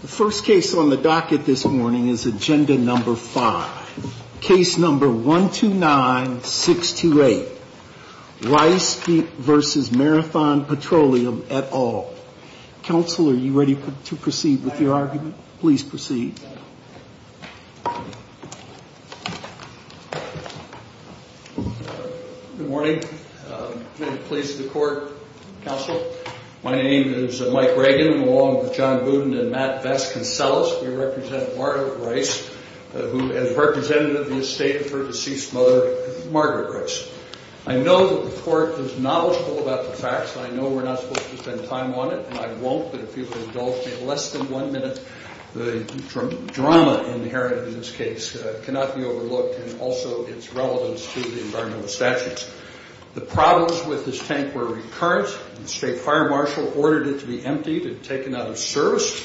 The first case on the docket this morning is Agenda No. 5, Case No. 129-628, Rice v. Marathon Petroleum et al. Counsel, are you ready to proceed with your argument? Please proceed. Good morning. I'm going to please the Court, Counsel. My name is Mike Reagan, along with John Budin and Matt Vasconcellos. We represent Margaret Rice, who is representative of the estate of her deceased mother, Margaret Rice. I know that the Court is knowledgeable about the facts, and I know we're not supposed to spend time on it, and I won't. I hope that if people indulge me less than one minute, the drama inherited in this case cannot be overlooked, and also its relevance to the environmental statutes. The problems with this tank were recurrent. The state fire marshal ordered it to be emptied and taken out of service.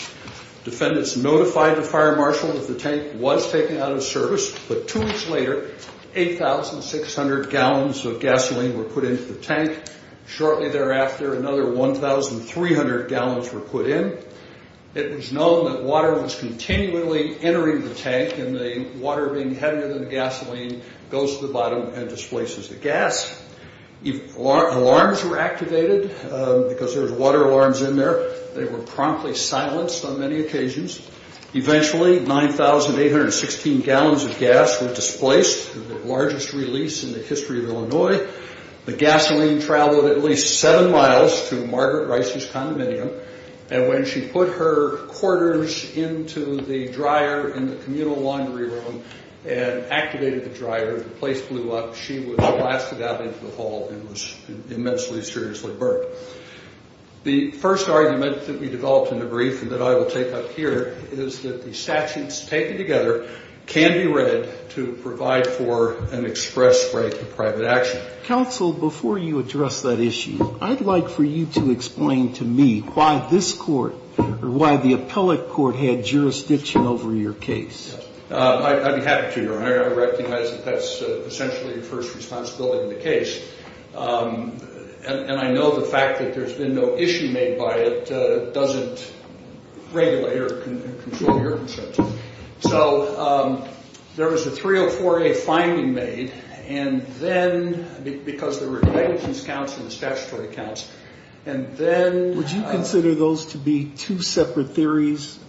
Defendants notified the fire marshal that the tank was taken out of service, but two weeks later, 8,600 gallons of gasoline were put into the tank. Shortly thereafter, another 1,300 gallons were put in. It was known that water was continually entering the tank, and the water being heavier than the gasoline goes to the bottom and displaces the gas. If alarms were activated, because there were water alarms in there, they were promptly silenced on many occasions. Eventually, 9,816 gallons of gas were displaced, the largest release in the history of Illinois. The gasoline traveled at least seven miles to Margaret Rice's condominium, and when she put her quarters into the dryer in the communal laundry room and activated the dryer, the place blew up. She was blasted out into the hall and was immensely seriously burned. The first argument that we developed in the brief and that I will take up here is that the statutes taken together can be read to provide for an express right to private action. Counsel, before you address that issue, I'd like for you to explain to me why this court, or why the appellate court, had jurisdiction over your case. I'd be happy to, Your Honor. I recognize that that's essentially the first responsibility of the case, and I know the fact that there's been no issue made by it doesn't regulate or control your consent. So there was a 304A finding made, and then, because there were negligence counts and statutory counts, and then... Would you consider those to be two separate theories?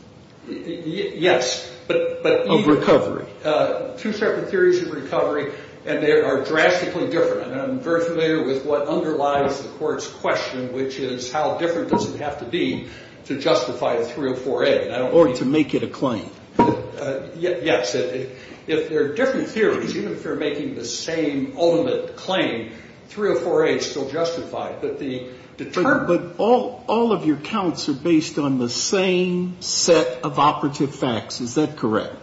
Yes, but... Of recovery. Two separate theories of recovery, and they are drastically different, and I'm very familiar with what underlies the court's question, which is how different does it have to be to justify a 304A? Or to make it a claim. Yes. If they're different theories, even if they're making the same ultimate claim, 304A is still justified. But all of your counts are based on the same set of operative facts. Is that correct?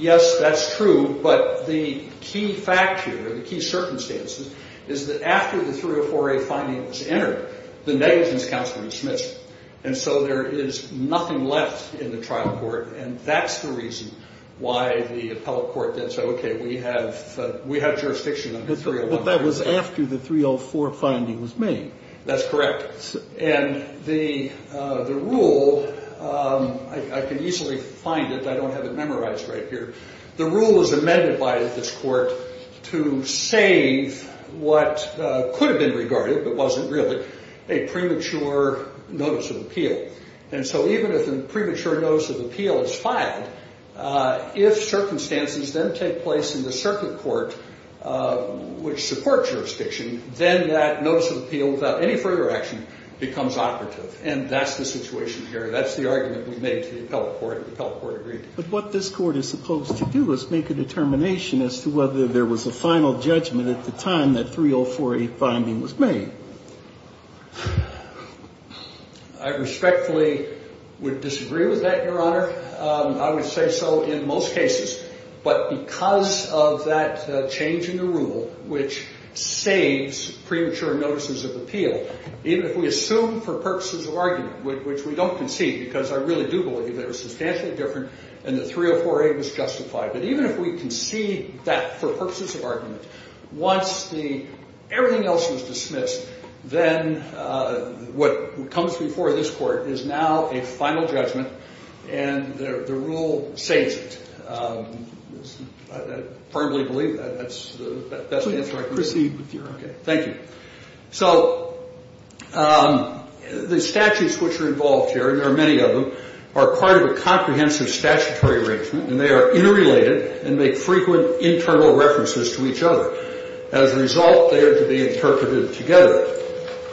Yes, that's true, but the key fact here, the key circumstances, is that after the 304A finding was entered, the negligence counts were dismissed. And so there is nothing left in the trial court, and that's the reason why the appellate court did so. Okay, we have jurisdiction on the 304A. But that was after the 304A finding was made. That's correct. And the rule, I can easily find it, I don't have it memorized right here. The rule was amended by this court to save what could have been regarded, but wasn't really, a premature notice of appeal. And so even if a premature notice of appeal is filed, if circumstances then take place in the circuit court, which supports jurisdiction, then that notice of appeal, without any further action, becomes operative. And that's the situation here. That's the argument we made to the appellate court, and the appellate court agreed. But what this court is supposed to do is make a determination as to whether there was a final judgment at the time that 304A finding was made. I respectfully would disagree with that, Your Honor. I would say so in most cases. But because of that change in the rule, which saves premature notices of appeal, even if we assume for purposes of argument, which we don't concede, because I really do believe they were substantially different and the 304A was justified. But even if we concede that for purposes of argument, once everything else was dismissed, then what comes before this court is now a final judgment, and the rule saves it. I firmly believe that's the best answer I can give. Please proceed with your argument. Thank you. So the statutes which are involved here, and there are many of them, are part of a comprehensive statutory arrangement, and they are interrelated and make frequent internal references to each other. As a result, they are to be interpreted together.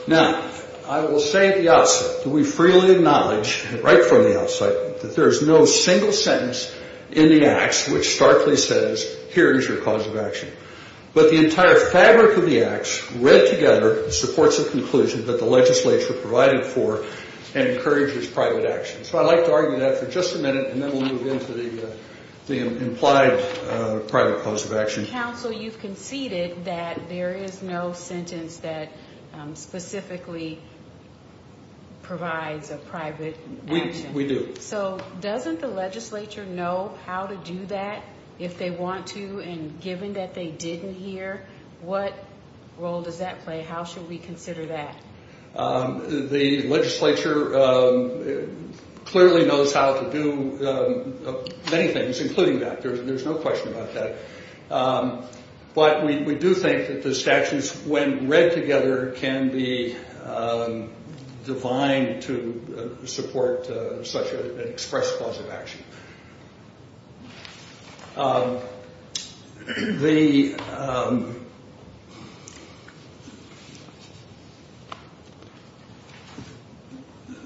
Now, I will say at the outset that we freely acknowledge right from the outset that there is no single sentence in the acts which starkly says here is your cause of action. But the entire fabric of the acts read together supports a conclusion that the legislature provided for and encourages private action. So I'd like to argue that for just a minute, and then we'll move into the implied private cause of action. Counsel, you've conceded that there is no sentence that specifically provides a private action. We do. So doesn't the legislature know how to do that if they want to? And given that they didn't here, what role does that play? How should we consider that? The legislature clearly knows how to do many things, including that. There's no question about that. But we do think that the statutes, when read together, can be defined to support such an express cause of action.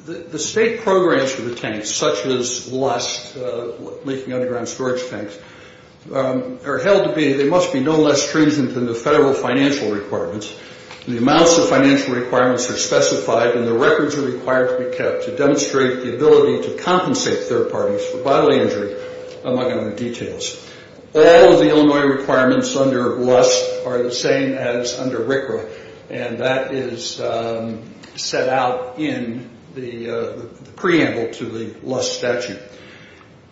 The state programs for the tanks, such as the last leaking underground storage tanks, are held to be, they must be no less stringent than the federal financial requirements. The amounts of financial requirements are specified, and the records are required to be kept to demonstrate the ability to compensate third parties for bodily injury, among other details. All of the Illinois requirements under LUST are the same as under RCRA, and that is set out in the preamble to the LUST statute.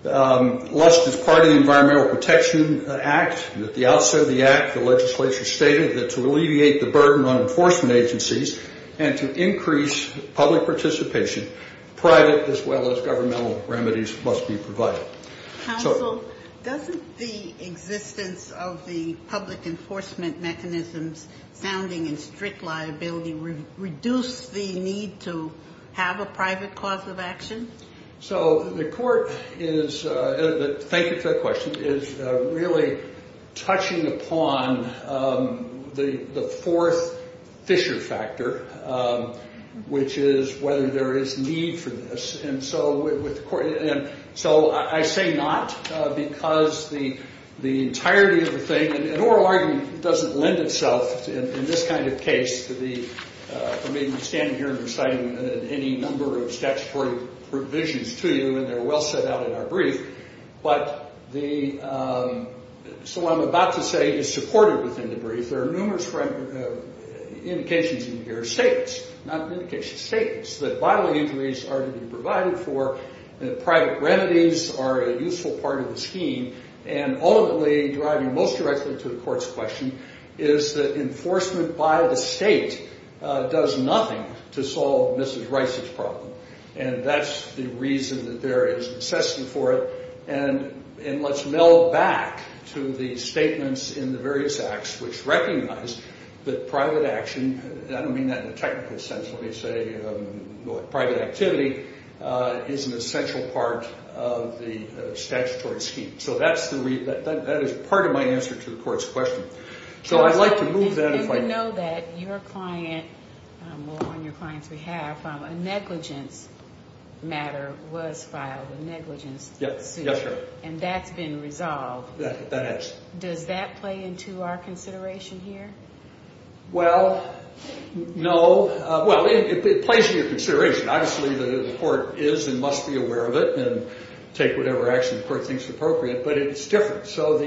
LUST is part of the Environmental Protection Act. At the outset of the act, the legislature stated that to alleviate the burden on enforcement agencies and to increase public participation, private as well as governmental remedies must be provided. Counsel, doesn't the existence of the public enforcement mechanisms sounding in strict liability reduce the need to have a private cause of action? So the court is, thank you for that question, is really touching upon the fourth Fisher factor, which is whether there is need for this. And so I say not, because the entirety of the thing, an oral argument doesn't lend itself in this kind of case to the, for me standing here and reciting any number of statutory provisions to you, and they're well set out in our brief. But the, so what I'm about to say is supported within the brief. There are numerous indications in here, statements, not indications, statements, that bodily injuries are to be provided for, that private remedies are a useful part of the scheme, and ultimately driving most directly to the court's question, is that enforcement by the state does nothing to solve Mrs. Rice's problem. And that's the reason that there is necessity for it. And let's meld back to the statements in the various acts which recognize that private action, I don't mean that in a technical sense when they say private activity, is an essential part of the statutory scheme. So that's the, that is part of my answer to the court's question. So I'd like to move that if I may. You know that your client, on your client's behalf, a negligence matter was filed, a negligence suit. And that's been resolved. That is. Does that play into our consideration here? Well, no. Well, it plays into your consideration. Obviously the court is and must be aware of it and take whatever action the court thinks appropriate. But it's different. So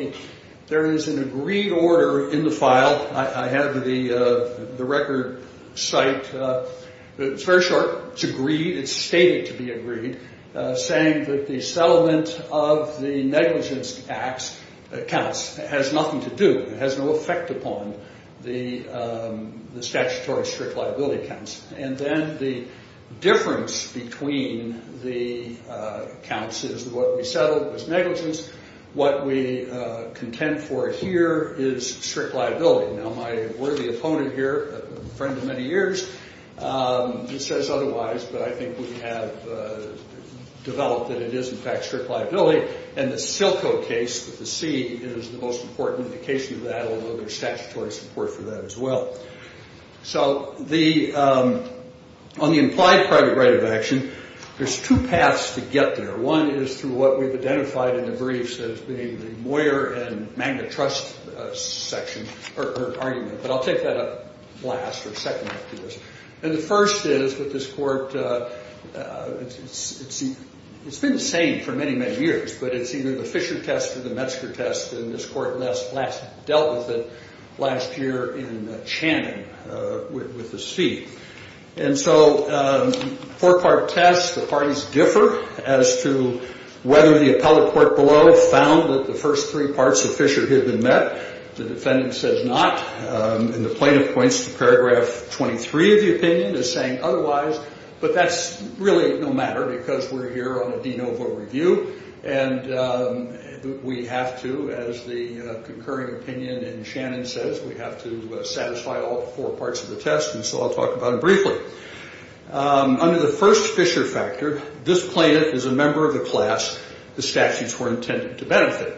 there is an agreed order in the file. I have the record cite. It's very short. It's agreed. It's stated to be agreed, saying that the settlement of the negligence acts, accounts, has nothing to do, has no effect upon the statutory strict liability accounts. And then the difference between the accounts is what we settled was negligence. What we contend for here is strict liability. Now, my worthy opponent here, a friend of many years, he says otherwise, but I think we have developed that it is, in fact, strict liability. And the Silco case with the C is the most important indication of that, although there's statutory support for that as well. So on the implied private right of action, there's two paths to get there. One is through what we've identified in the briefs as being the Moyer and Magna Trust section, or argument, but I'll take that up last or second after this. And the first is with this court, it's been the same for many, many years, but it's either the Fisher test or the Metzger test, and this court last dealt with it last year in Channing with the C. And so four-part test, the parties differ as to whether the appellate court below found that the first three parts of Fisher had been met. The defendant says not, and the plaintiff points to paragraph 23 of the opinion as saying otherwise, but that's really no matter because we're here on a de novo review, and we have to, as the concurring opinion in Channing says, we have to satisfy all four parts of the test, and so I'll talk about it briefly. Under the first Fisher factor, this plaintiff is a member of the class the statutes were intended to benefit.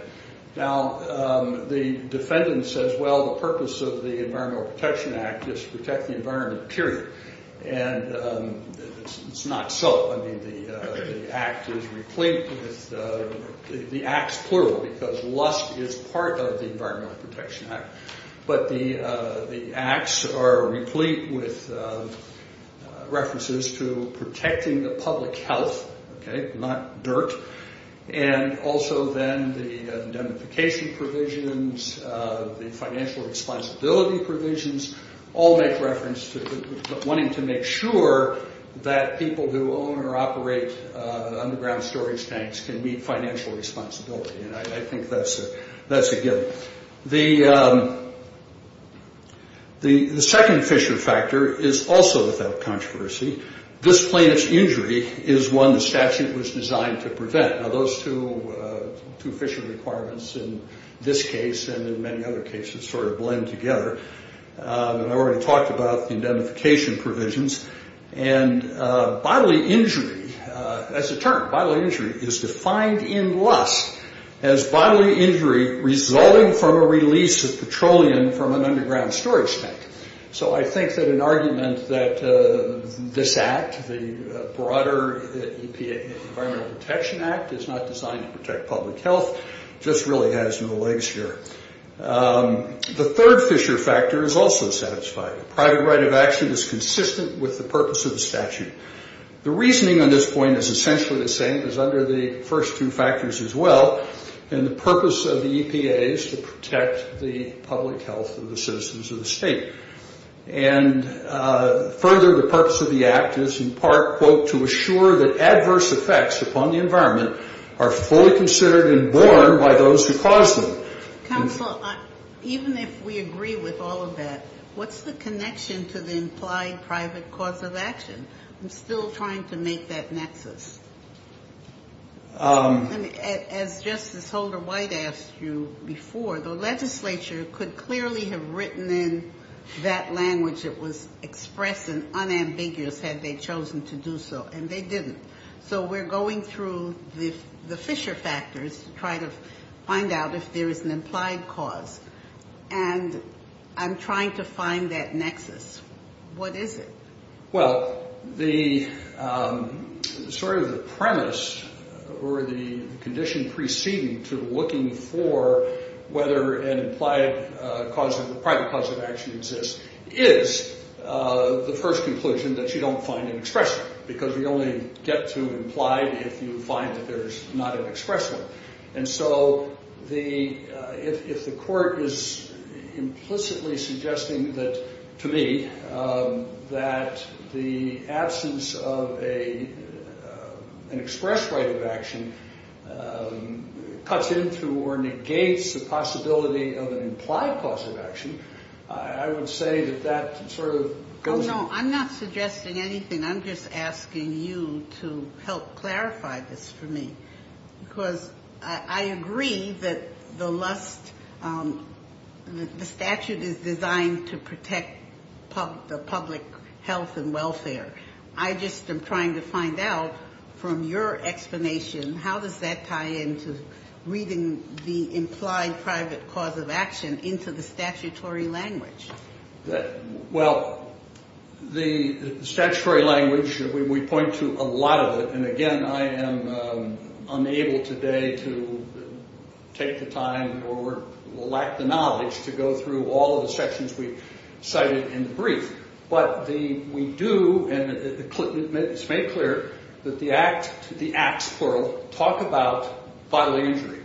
Now, the defendant says, well, the purpose of the Environmental Protection Act is to protect the environment, period. And it's not so. I mean, the act is replete with the acts, plural, because lust is part of the Environmental Protection Act, but the acts are replete with references to protecting the public health, okay, not dirt, and also then the indemnification provisions, the financial responsibility provisions, all make reference to wanting to make sure that people who own or operate underground storage tanks can meet financial responsibility, and I think that's a given. The second Fisher factor is also without controversy. This plaintiff's injury is one the statute was designed to prevent. Now, those two Fisher requirements in this case and in many other cases sort of blend together, and I already talked about the indemnification provisions, and bodily injury, as a term, bodily injury is defined in lust as bodily injury resulting from a release of petroleum from an underground storage tank. So I think that an argument that this act, the broader EPA Environmental Protection Act, is not designed to protect public health just really has no legs here. The third Fisher factor is also satisfied. A private right of action is consistent with the purpose of the statute. The reasoning on this point is essentially the same as under the first two factors as well, and the purpose of the EPA is to protect the public health of the citizens of the state. And further, the purpose of the act is in part, quote, to assure that adverse effects upon the environment are fully considered and borne by those who cause them. Counsel, even if we agree with all of that, what's the connection to the implied private cause of action? I'm still trying to make that nexus. As Justice Holder-White asked you before, the legislature could clearly have written in that language that was express and unambiguous had they chosen to do so, and they didn't. So we're going through the Fisher factors to try to find out if there is an implied cause, and I'm trying to find that nexus. What is it? Well, sort of the premise or the condition preceding to looking for whether an implied private cause of action exists is the first conclusion that you don't find an express one, because you only get to implied if you find that there's not an express one. And so if the court is implicitly suggesting to me that the absence of an express right of action cuts into or negates the possibility of an implied cause of action, I would say that that sort of goes... Oh, no, I'm not suggesting anything. I'm just asking you to help clarify this for me, because I agree that the statute is designed to protect the public health and welfare. I just am trying to find out from your explanation, how does that tie into reading the implied private cause of action into the statutory language? Well, the statutory language, we point to a lot of it, and again, I am unable today to take the time or lack the knowledge to go through all of the sections we cited in the brief. But we do, and it's made clear that the acts, plural, talk about vital injury,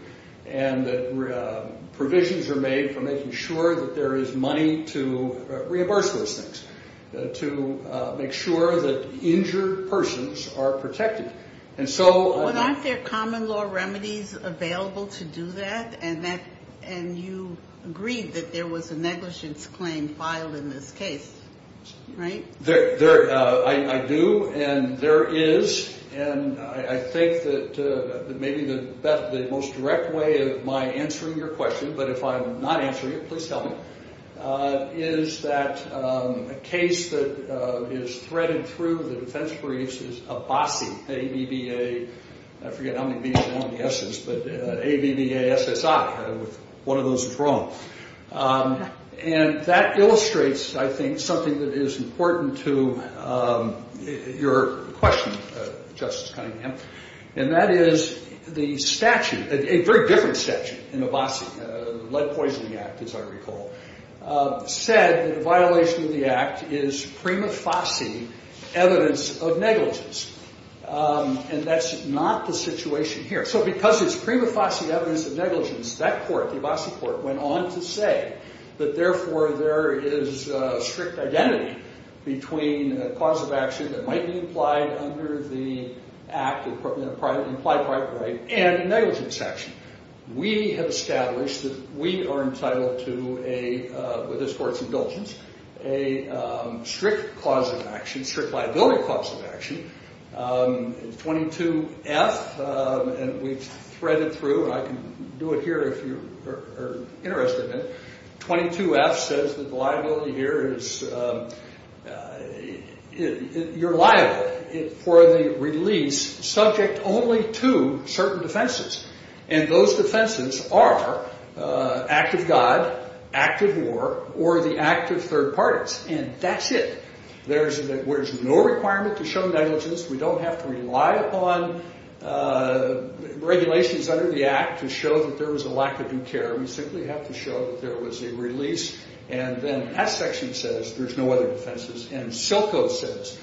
and that provisions are made for making sure that there is money to reimburse those things, to make sure that injured persons are protected. Well, aren't there common law remedies available to do that? And you agreed that there was a negligence claim filed in this case, right? I do, and there is, and I think that maybe the most direct way of my answering your question, but if I'm not answering it, please tell me, is that a case that is threaded through the defense briefs is ABASI, A-B-B-A, I forget how many B's and S's, but A-B-B-A-S-S-I, one of those is wrong. And that illustrates, I think, something that is important to your question, Justice Cunningham, and that is the statute, a very different statute in ABASI, the Lead Poisoning Act, as I recall, said that a violation of the act is prima facie evidence of negligence, and that's not the situation here. So because it's prima facie evidence of negligence, that court, the ABASI court, went on to say that therefore there is strict identity between a cause of action that might be implied under the act, an implied private right, and a negligence action. We have established that we are entitled to a, with this court's indulgence, a strict cause of action, strict liability cause of action, 22F, and we've threaded through, and I can do it here if you're interested in it, 22F says that the liability here is, you're liable for the release subject only to certain defenses, and those defenses are act of God, act of war, or the act of third parties, and that's it. There's no requirement to show negligence. We don't have to rely upon regulations under the act to show that there was a lack of due care. We simply have to show that there was a release, and then S section says there's no other defenses, and Silco says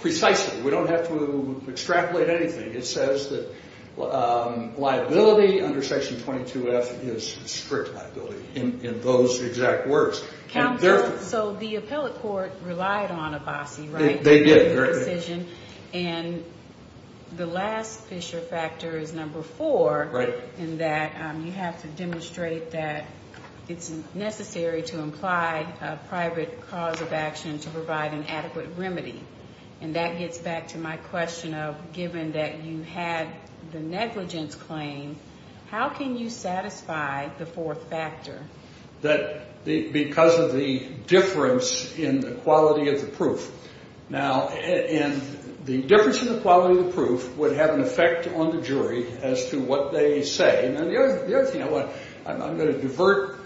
precisely. We don't have to extrapolate anything. It says that liability under section 22F is strict liability in those exact words. Counsel, so the appellate court relied on ABASI, right? They did. And the last fissure factor is number four in that you have to demonstrate that it's necessary to imply a private cause of action to provide an adequate remedy, and that gets back to my question of given that you had the negligence claim, how can you satisfy the fourth factor? That because of the difference in the quality of the proof. Now, and the difference in the quality of the proof would have an effect on the jury as to what they say, I'm going to divert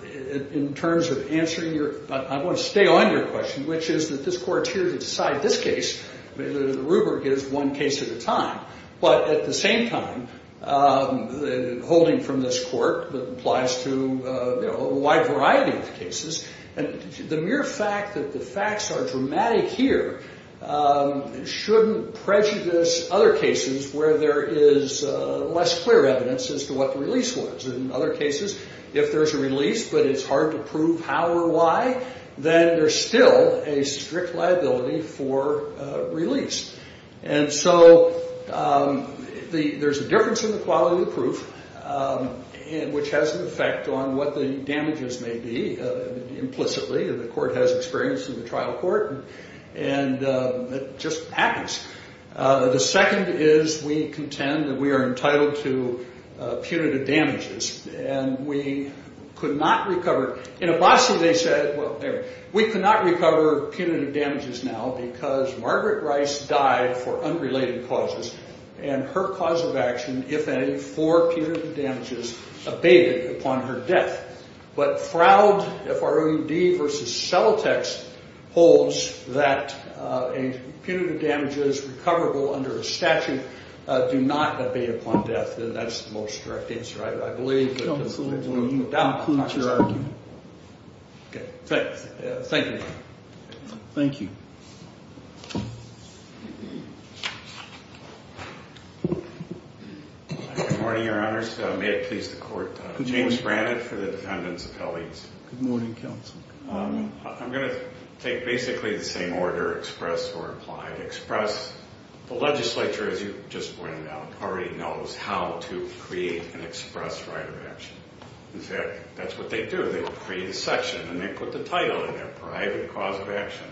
in terms of answering your, I want to stay on your question, which is that this court's here to decide this case, the rubric is one case at a time, but at the same time, holding from this court applies to a wide variety of cases, and the mere fact that the facts are dramatic here shouldn't prejudice other cases where there is less clear evidence as to what the release was. In other cases, if there's a release but it's hard to prove how or why, then there's still a strict liability for release. And so there's a difference in the quality of the proof, which has an effect on what the damages may be implicitly, and the court has experience in the trial court, and it just happens. The second is we contend that we are entitled to punitive damages, and we could not recover. In Abbasi, they said, well, anyway, we could not recover punitive damages now because Margaret Rice died for unrelated causes, and her cause of action, if any, for punitive damages abated upon her death. But Froud, F-R-O-U-D versus Celotex holds that punitive damages recoverable under a statute do not abate upon death, and that's the most direct answer I believe. Thank you. Thank you. Good morning, Your Honors. May it please the Court. James Brannan for the Defendant's Appellees. Good morning, Counsel. I'm going to take basically the same order expressed or implied. The legislature, as you just pointed out, already knows how to create an express right of action. In fact, that's what they do. They create a section, and they put the title in their private cause of action.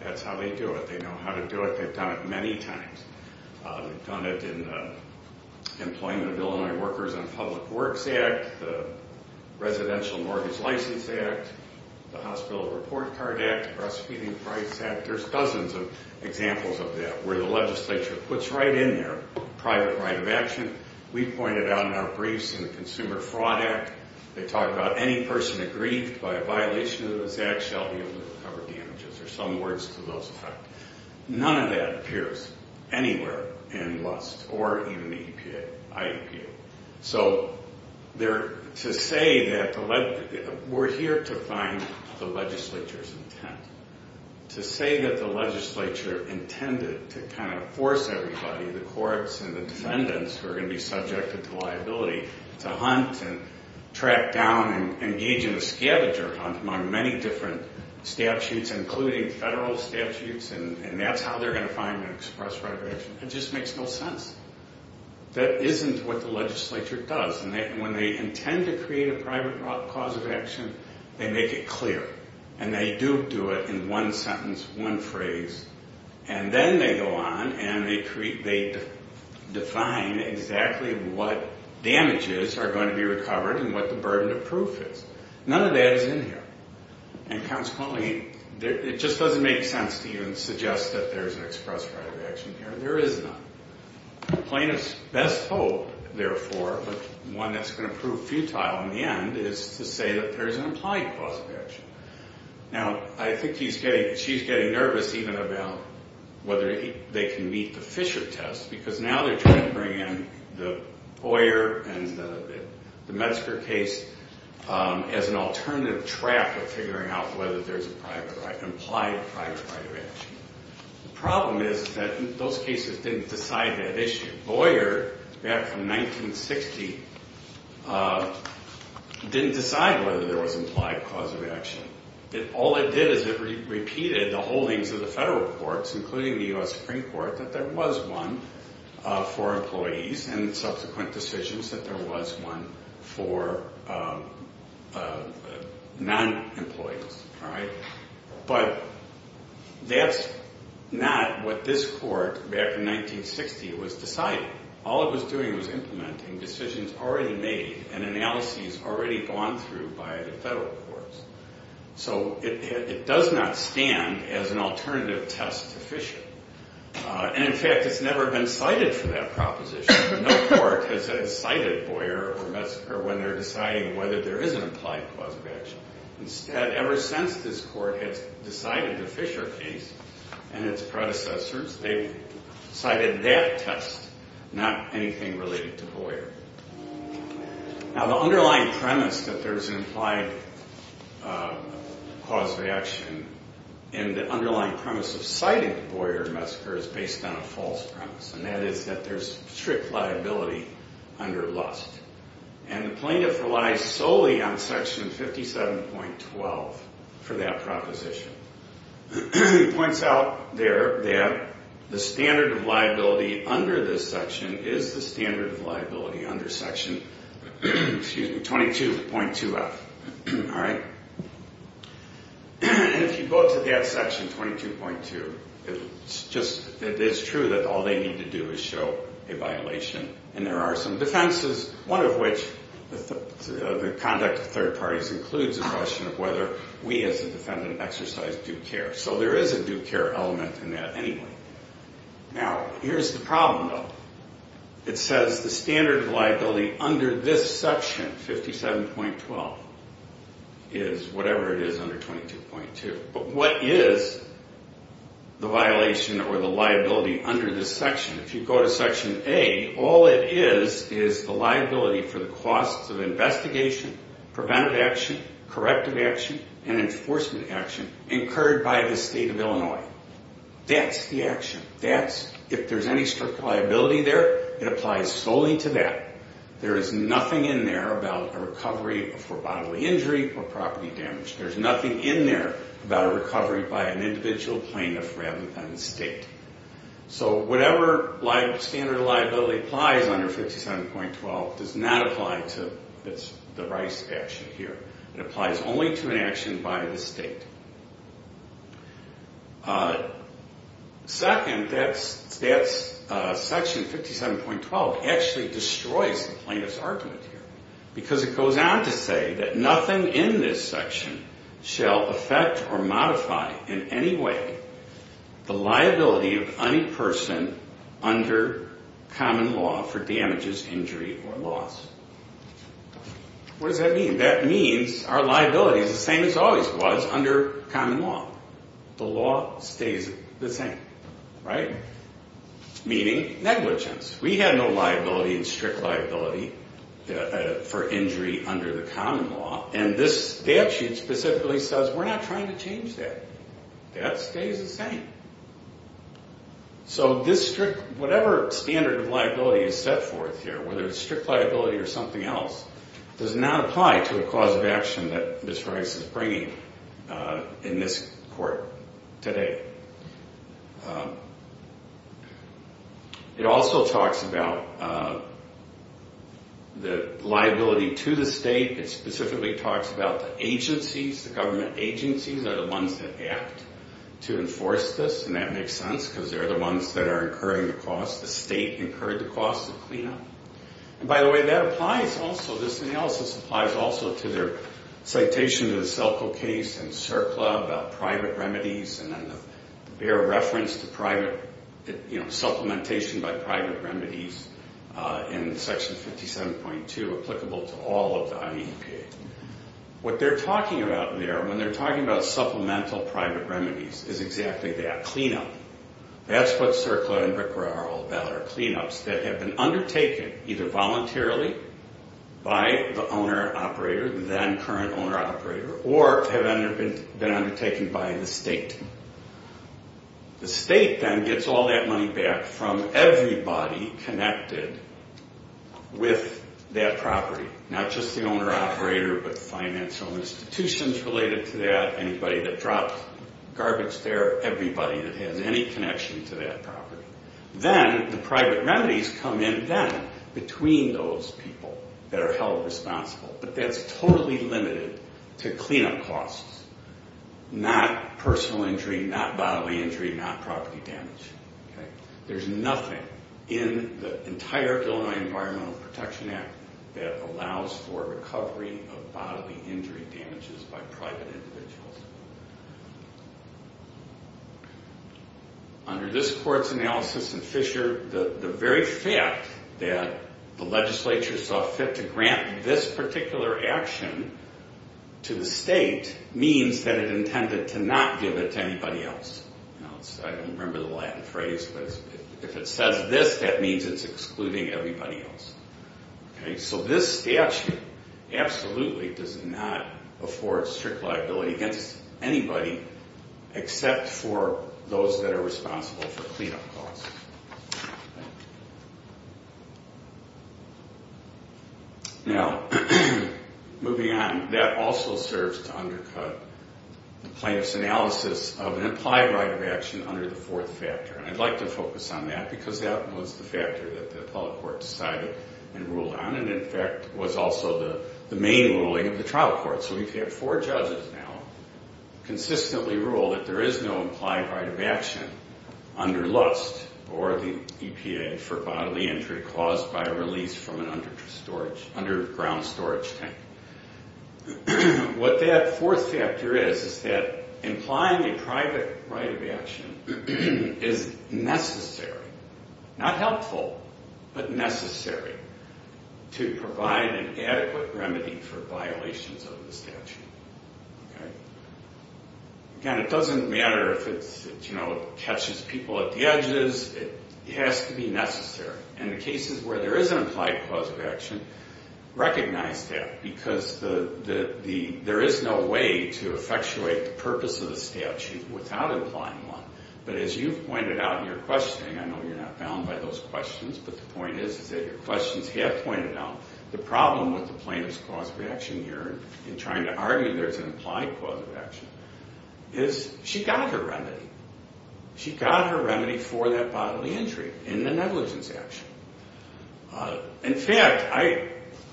That's how they do it. They know how to do it. They've done it many times. They've done it in the Employment of Illinois Workers and Public Works Act, the Residential Mortgage License Act, the Hospital Report Card Act, the Breastfeeding Rights Act. There's dozens of examples of that where the legislature puts right in there private right of action. We point it out in our briefs in the Consumer Fraud Act. They talk about any person aggrieved by a violation of those acts shall be able to recover damages. There's some words to those effects. None of that appears anywhere in LUST or even the IEPA. So to say that we're here to find the legislature's intent, to say that the legislature intended to kind of force everybody, the courts and the defendants who are going to be subjected to liability, to hunt and track down and engage in a scavenger hunt among many different statutes, including federal statutes, and that's how they're going to find an express right of action, it just makes no sense. That isn't what the legislature does. And when they intend to create a private cause of action, they make it clear. And they do do it in one sentence, one phrase, and then they go on and they define exactly what damages are going to be recovered and what the burden of proof is. None of that is in here. And consequently, it just doesn't make sense to even suggest that there's an express right of action here. There is none. Plaintiff's best hope, therefore, but one that's going to prove futile in the end, is to say that there's an implied cause of action. Now, I think she's getting nervous even about whether they can meet the Fisher test, because now they're trying to bring in the Boyer and the Metzger case as an alternative trap of figuring out whether there's an implied private right of action. The problem is that those cases didn't decide that issue. Boyer, back in 1960, didn't decide whether there was implied cause of action. All it did is it repeated the holdings of the federal courts, including the U.S. Supreme Court, that there was one for employees and subsequent decisions that there was one for non-employees. But that's not what this court, back in 1960, was deciding. All it was doing was implementing decisions already made and analyses already gone through by the federal courts. So it does not stand as an alternative test to Fisher. And in fact, it's never been cited for that proposition. No court has cited Boyer or Metzger when they're deciding whether there is an implied cause of action. Instead, ever since this court has decided the Fisher case and its predecessors, they've cited that test, not anything related to Boyer. Now, the underlying premise that there's an implied cause of action and the underlying premise of citing the Boyer and Metzger is based on a false premise, and that is that there's strict liability under Lust. And the plaintiff relies solely on Section 57.12 for that proposition. It points out there that the standard of liability under this section is the standard of liability under Section 22.2F. All right? And if you go to that Section 22.2, it's true that all they need to do is show a violation. And there are some defenses, one of which, the conduct of third parties, includes a question of whether we as a defendant exercise due care. So there is a due care element in that anyway. Now, here's the problem, though. It says the standard of liability under this section, 57.12, is whatever it is under 22.2. But what is the violation or the liability under this section? If you go to Section A, all it is is the liability for the costs of investigation, preventive action, corrective action, and enforcement action incurred by the state of Illinois. That's the action. If there's any strict liability there, it applies solely to that. There is nothing in there about a recovery for bodily injury or property damage. There's nothing in there about a recovery by an individual plaintiff rather than the state. So whatever standard of liability applies under 57.12 does not apply to the Rice action here. It applies only to an action by the state. Second, that Section 57.12 actually destroys the plaintiff's argument here because it goes on to say that nothing in this section shall affect or modify in any way the liability of any person under common law for damages, injury, or loss. What does that mean? That means our liability is the same as always was under common law. The law stays the same, right, meaning negligence. We have no liability and strict liability for injury under the common law. And this statute specifically says we're not trying to change that. That stays the same. So this strict, whatever standard of liability is set forth here, whether it's strict liability or something else, does not apply to the cause of action that Ms. Rice is bringing in this court today. It also talks about the liability to the state. It specifically talks about the agencies, the government agencies, are the ones that act to enforce this, and that makes sense because they're the ones that are incurring the cost. The state incurred the cost of cleanup. And by the way, that applies also, this analysis applies also, to their citation of the Selco case and CERCLA about private remedies and then their reference to private, you know, supplementation by private remedies in Section 57.2 applicable to all of the IEPA. What they're talking about there, when they're talking about supplemental private remedies, is exactly that, cleanup. That's what CERCLA and BRCRA are all about, are cleanups that have been undertaken either voluntarily by the owner-operator, then current owner-operator, or have been undertaken by the state. The state then gets all that money back from everybody connected with that property, not just the owner-operator, but financial institutions related to that, anybody that dropped garbage there, everybody that has any connection to that property. Then the private remedies come in then between those people that are held responsible. But that's totally limited to cleanup costs, not personal injury, not bodily injury, not property damage. There's nothing in the entire Illinois Environmental Protection Act that allows for recovery of bodily injury damages by private individuals. Under this court's analysis in Fisher, the very fact that the legislature saw fit to grant this particular action to the state means that it intended to not give it to anybody else. I don't remember the Latin phrase, but if it says this, that means it's excluding everybody else. So this statute absolutely does not afford strict liability against anybody except for those that are responsible for cleanup costs. Now, moving on, that also serves to undercut the plaintiff's analysis of an implied right of action under the fourth factor. And I'd like to focus on that because that was the factor that the appellate court decided and ruled on and, in fact, was also the main ruling of the trial court. So we've had four judges now consistently rule that there is no implied right of action under LUST or the EPA for bodily injury caused by a release from an underground storage tank. What that fourth factor is is that implying a private right of action is necessary, not helpful, but necessary to provide an adequate remedy for violations of the statute. Again, it doesn't matter if it catches people at the edges. It has to be necessary. And in cases where there is an implied cause of action, recognize that because there is no way to effectuate the purpose of the statute without implying one. But as you've pointed out in your questioning, I know you're not bound by those questions, but the point is that your questions have pointed out the problem with the plaintiff's cause of action here in trying to argue there's an implied cause of action is she got her remedy. She got her remedy for that bodily injury in the negligence action. In fact,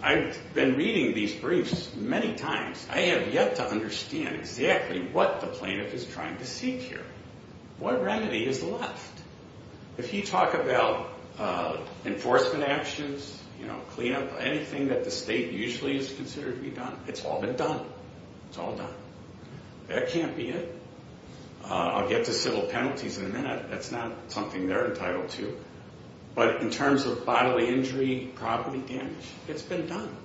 I've been reading these briefs many times. I have yet to understand exactly what the plaintiff is trying to seek here, what remedy is left. If you talk about enforcement actions, cleanup, anything that the state usually is considered to be done, it's all been done. It's all done. That can't be it. I'll get to civil penalties in a minute. That's not something they're entitled to. But in terms of bodily injury, property damage, it's been done.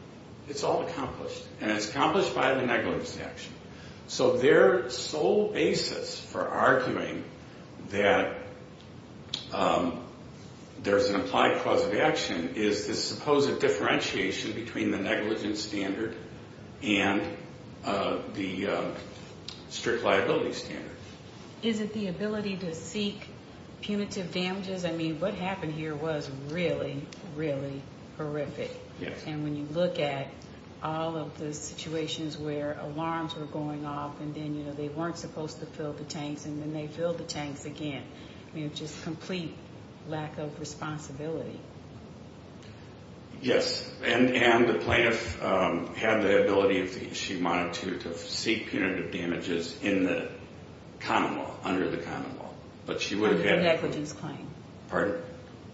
It's all accomplished, and it's accomplished by the negligence action. So their sole basis for arguing that there's an implied cause of action is this supposed differentiation between the negligence standard and the strict liability standard. Is it the ability to seek punitive damages? I mean, what happened here was really, really horrific. And when you look at all of the situations where alarms were going off and then they weren't supposed to fill the tanks and then they filled the tanks again, just complete lack of responsibility. Yes. And the plaintiff had the ability, if she wanted to, to seek punitive damages in the common law, under the common law. Under the negligence claim. Pardon?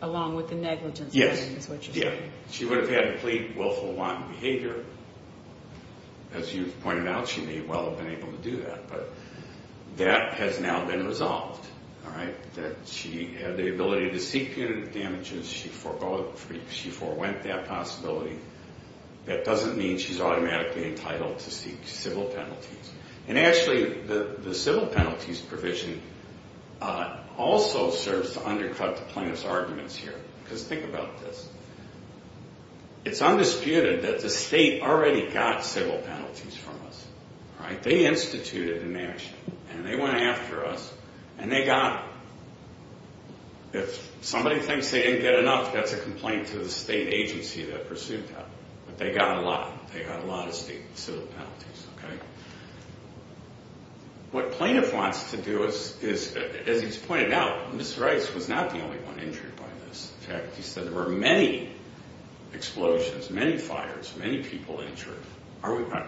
Along with the negligence claim is what you're saying. She would have had complete willful wanton behavior. As you've pointed out, she may well have been able to do that. But that has now been resolved, all right, that she had the ability to seek punitive damages. She forewent that possibility. That doesn't mean she's automatically entitled to seek civil penalties. And actually, the civil penalties provision also serves to undercut the plaintiff's arguments here. Because think about this. It's undisputed that the state already got civil penalties from us. All right? They instituted and managed it. And they went after us and they got them. If somebody thinks they didn't get enough, that's a complaint to the state agency that pursued that. But they got a lot. They got a lot of civil penalties, okay? What plaintiff wants to do is, as he's pointed out, Ms. Rice was not the only one injured by this. In fact, he said there were many explosions, many fires, many people injured.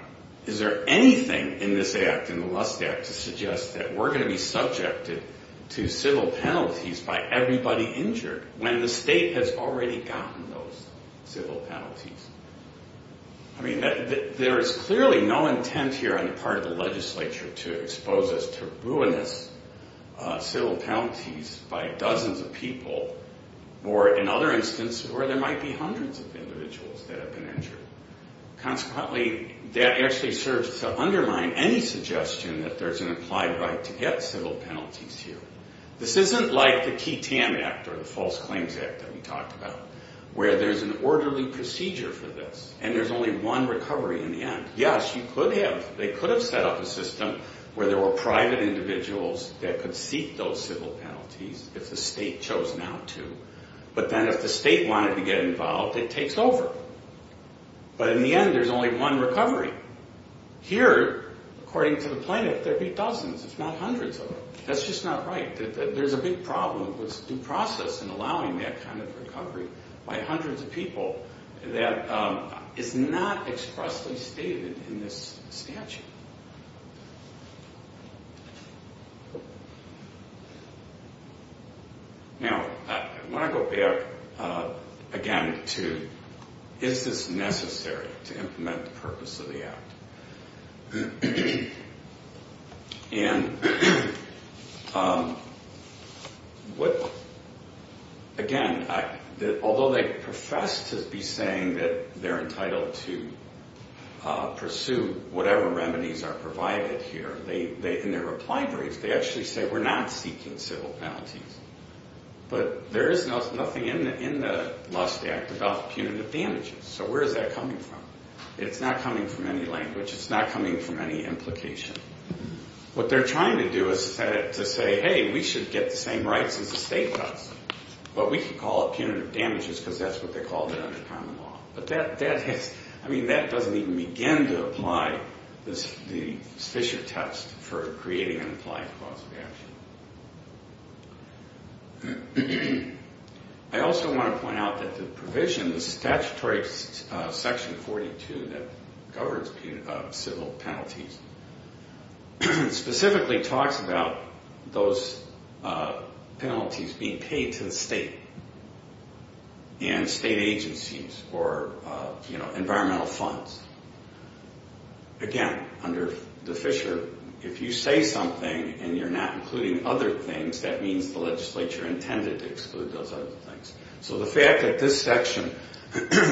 Is there anything in this act, in the Lust Act, to suggest that we're going to be subjected to civil penalties by everybody injured when the state has already gotten those civil penalties? I mean, there is clearly no intent here on the part of the legislature to expose us to ruinous civil penalties by dozens of people or, in other instances, where there might be hundreds of individuals that have been injured. Consequently, that actually serves to undermine any suggestion that there's an applied right to get civil penalties here. This isn't like the Key Tan Act or the False Claims Act that we talked about, where there's an orderly procedure for this and there's only one recovery in the end. Yes, you could have. They could have set up a system where there were private individuals that could seek those civil penalties if the state chose not to. But then if the state wanted to get involved, it takes over. But in the end, there's only one recovery. Here, according to the plaintiff, there'd be dozens, if not hundreds of them. That's just not right. There's a big problem with due process in allowing that kind of recovery by hundreds of people that is not expressly stated in this statute. Now, I want to go back again to, is this necessary to implement the purpose of the Act? And again, although they profess to be saying that they're entitled to pursue whatever remedies are provided here, in their reply brief, they actually say we're not seeking civil penalties. But there is nothing in the Lust Act about punitive damages. So where is that coming from? It's not coming from any language. It's not coming from any implication. What they're trying to do is to say, hey, we should get the same rights as the state does. But we can call it punitive damages because that's what they called it under common law. But that doesn't even begin to apply the Fisher test for creating an implied cause of action. I also want to point out that the provision, the statutory section 42 that governs civil penalties, specifically talks about those penalties being paid to the state and state agencies or environmental funds. Again, under the Fisher, if you say something and you're not including other things, that means the legislature intended to exclude those other things. So the fact that this section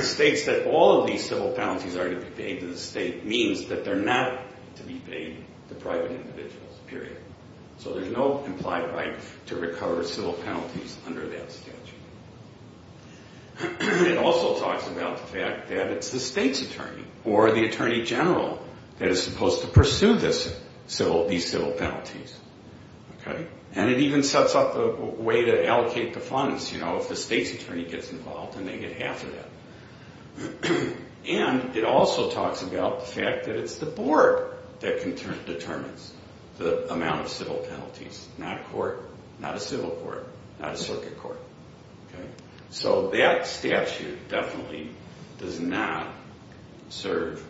states that all of these civil penalties are to be paid to the state means that they're not to be paid to private individuals, period. So there's no implied right to recover civil penalties under that statute. It also talks about the fact that it's the state's attorney or the attorney general that is supposed to pursue these civil penalties. And it even sets up a way to allocate the funds, you know, if the state's attorney gets involved and they get half of that. And it also talks about the fact that it's the board that determines the amount of civil penalties, not a court, not a civil court, not a circuit court. So that statute definitely does not serve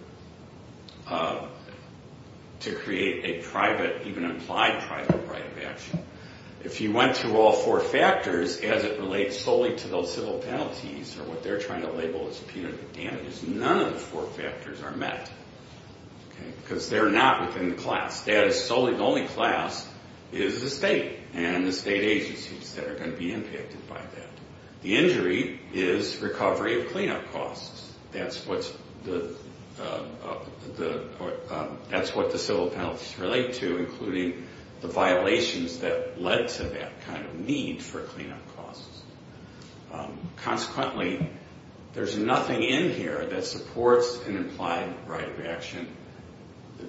to create a private, even implied private right of action. If you went through all four factors as it relates solely to those civil penalties or what they're trying to label as punitive damages, none of the four factors are met. Because they're not within the class. The only class is the state and the state agencies that are going to be impacted by that. The injury is recovery of cleanup costs. That's what the civil penalties relate to, including the violations that led to that kind of need for cleanup costs. Consequently, there's nothing in here that supports an implied right of action.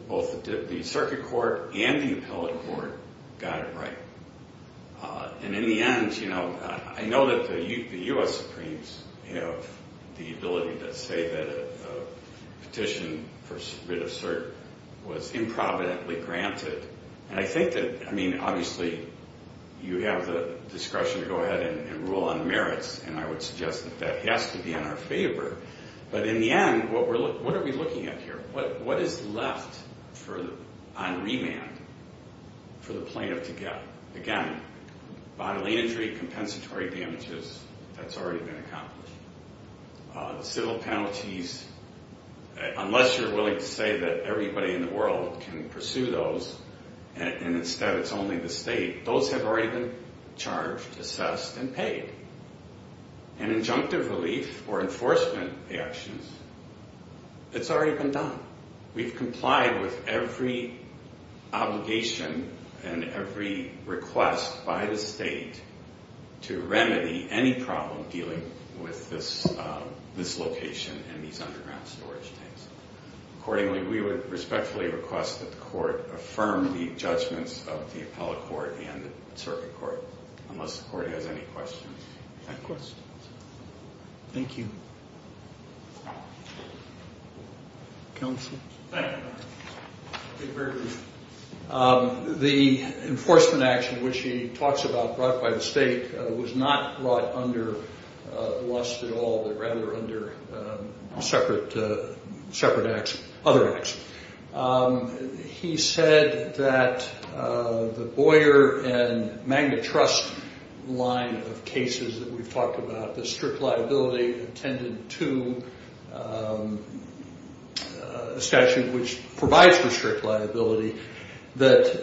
Both the circuit court and the appellate court got it right. And in the end, you know, I know that the U.S. Supremes have the ability to say that a petition for writ of cert was improvidently granted. And I think that, I mean, obviously you have the discretion to go ahead and rule on merits. And I would suggest that that has to be in our favor. But in the end, what are we looking at here? What is left on remand for the plaintiff to get? Again, bodily injury, compensatory damages, that's already been accomplished. The civil penalties, unless you're willing to say that everybody in the world can pursue those and instead it's only the state, those have already been charged, assessed, and paid. And injunctive relief or enforcement actions, it's already been done. We've complied with every obligation and every request by the state to remedy any problem dealing with this location and these underground storage tanks. Accordingly, we would respectfully request that the court affirm the judgments of the appellate court and the circuit court, unless the court has any questions. Any questions? Thank you. Counsel? Thank you. The enforcement action, which he talks about, brought by the state, was not brought under lust at all, but rather under separate acts, other acts. He said that the Boyer and Magna Trust line of cases that we've talked about, the strict liability attended to a statute which provides for strict liability, that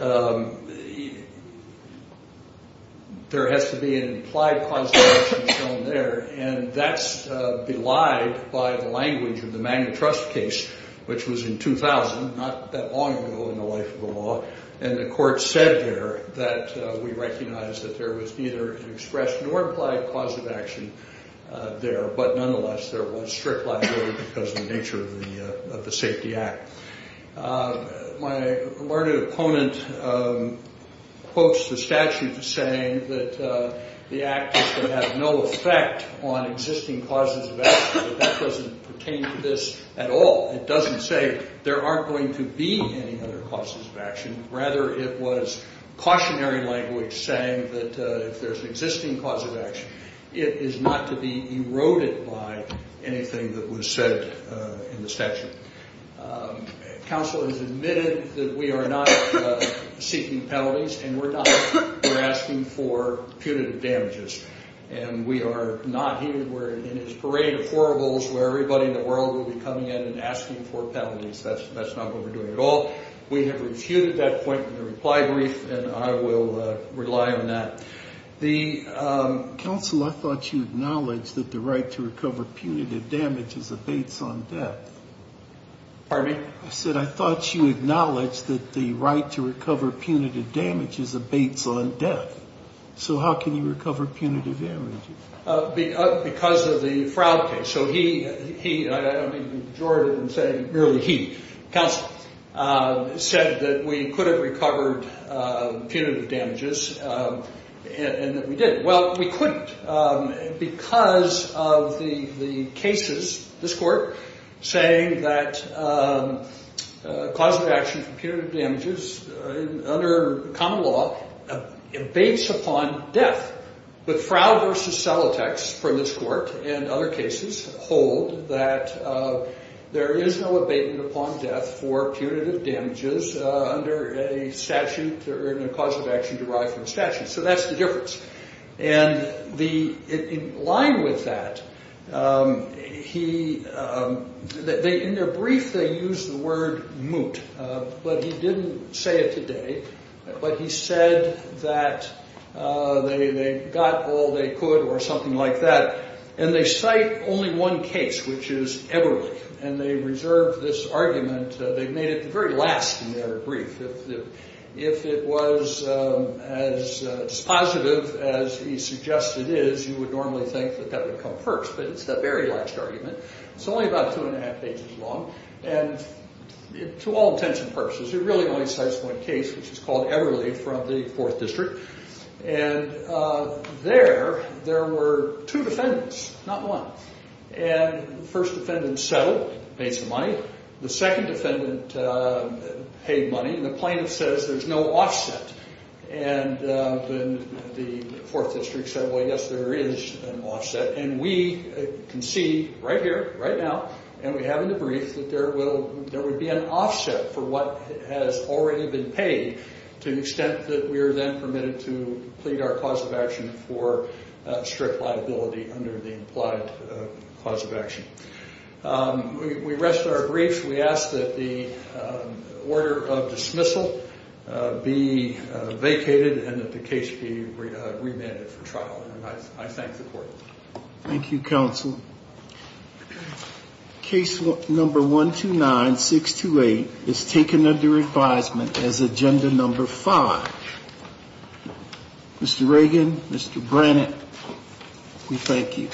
there has to be an implied cause of action shown there, and that's belied by the language of the Magna Trust case, which was in 2000, not that long ago in the life of the law, and the court said there that we recognize that there was neither an expressed nor implied cause of action there, but nonetheless there was strict liability because of the nature of the Safety Act. My learned opponent quotes the statute saying that the act is to have no effect on existing causes of action, but that doesn't pertain to this at all. It doesn't say there aren't going to be any other causes of action. Rather, it was cautionary language saying that if there's an existing cause of action, it is not to be eroded by anything that was said in the statute. Counsel has admitted that we are not seeking penalties and we're not. We're asking for punitive damages, and we are not here. We're in this parade of four holes where everybody in the world will be coming in and asking for penalties. That's not what we're doing at all. We have refuted that point in the reply brief, and I will rely on that. Counsel, I thought you acknowledged that the right to recover punitive damages abates on death. Pardon me? I said I thought you acknowledged that the right to recover punitive damages abates on death. So how can you recover punitive damages? Because of the Froud case. So he, I don't mean the majority, I'm saying merely he, counsel, said that we could have recovered punitive damages and that we did. Well, we couldn't because of the cases, this court, saying that cause of action for punitive damages under common law abates upon death. But Froud v. Celotex from this court and other cases hold that there is no abatement upon death for punitive damages under a statute or in a cause of action derived from a statute. So that's the difference. And in line with that, he, in their brief they used the word moot, but he didn't say it today. But he said that they got all they could or something like that. And they cite only one case, which is Eberle. And they reserved this argument, they made it the very last in their brief. If it was as positive as he suggested it is, you would normally think that that would come first. But it's the very last argument. It's only about two and a half pages long. And to all intents and purposes, it really only cites one case, which is called Eberle from the 4th District. And there, there were two defendants, not one. And the first defendant settled, made some money. The second defendant paid money. And the plaintiff says there's no offset. And then the 4th District said, well, yes, there is an offset. And we concede right here, right now, and we have in the brief that there will be an offset for what has already been paid to the extent that we are then permitted to plead our cause of action for strict liability under the implied cause of action. We rest our brief. We ask that the order of dismissal be vacated and that the case be remanded for trial. I thank the court. Thank you, counsel. Case number 129628 is taken under advisement as agenda number 5. Mr. Reagan, Mr. Brannett, we thank you.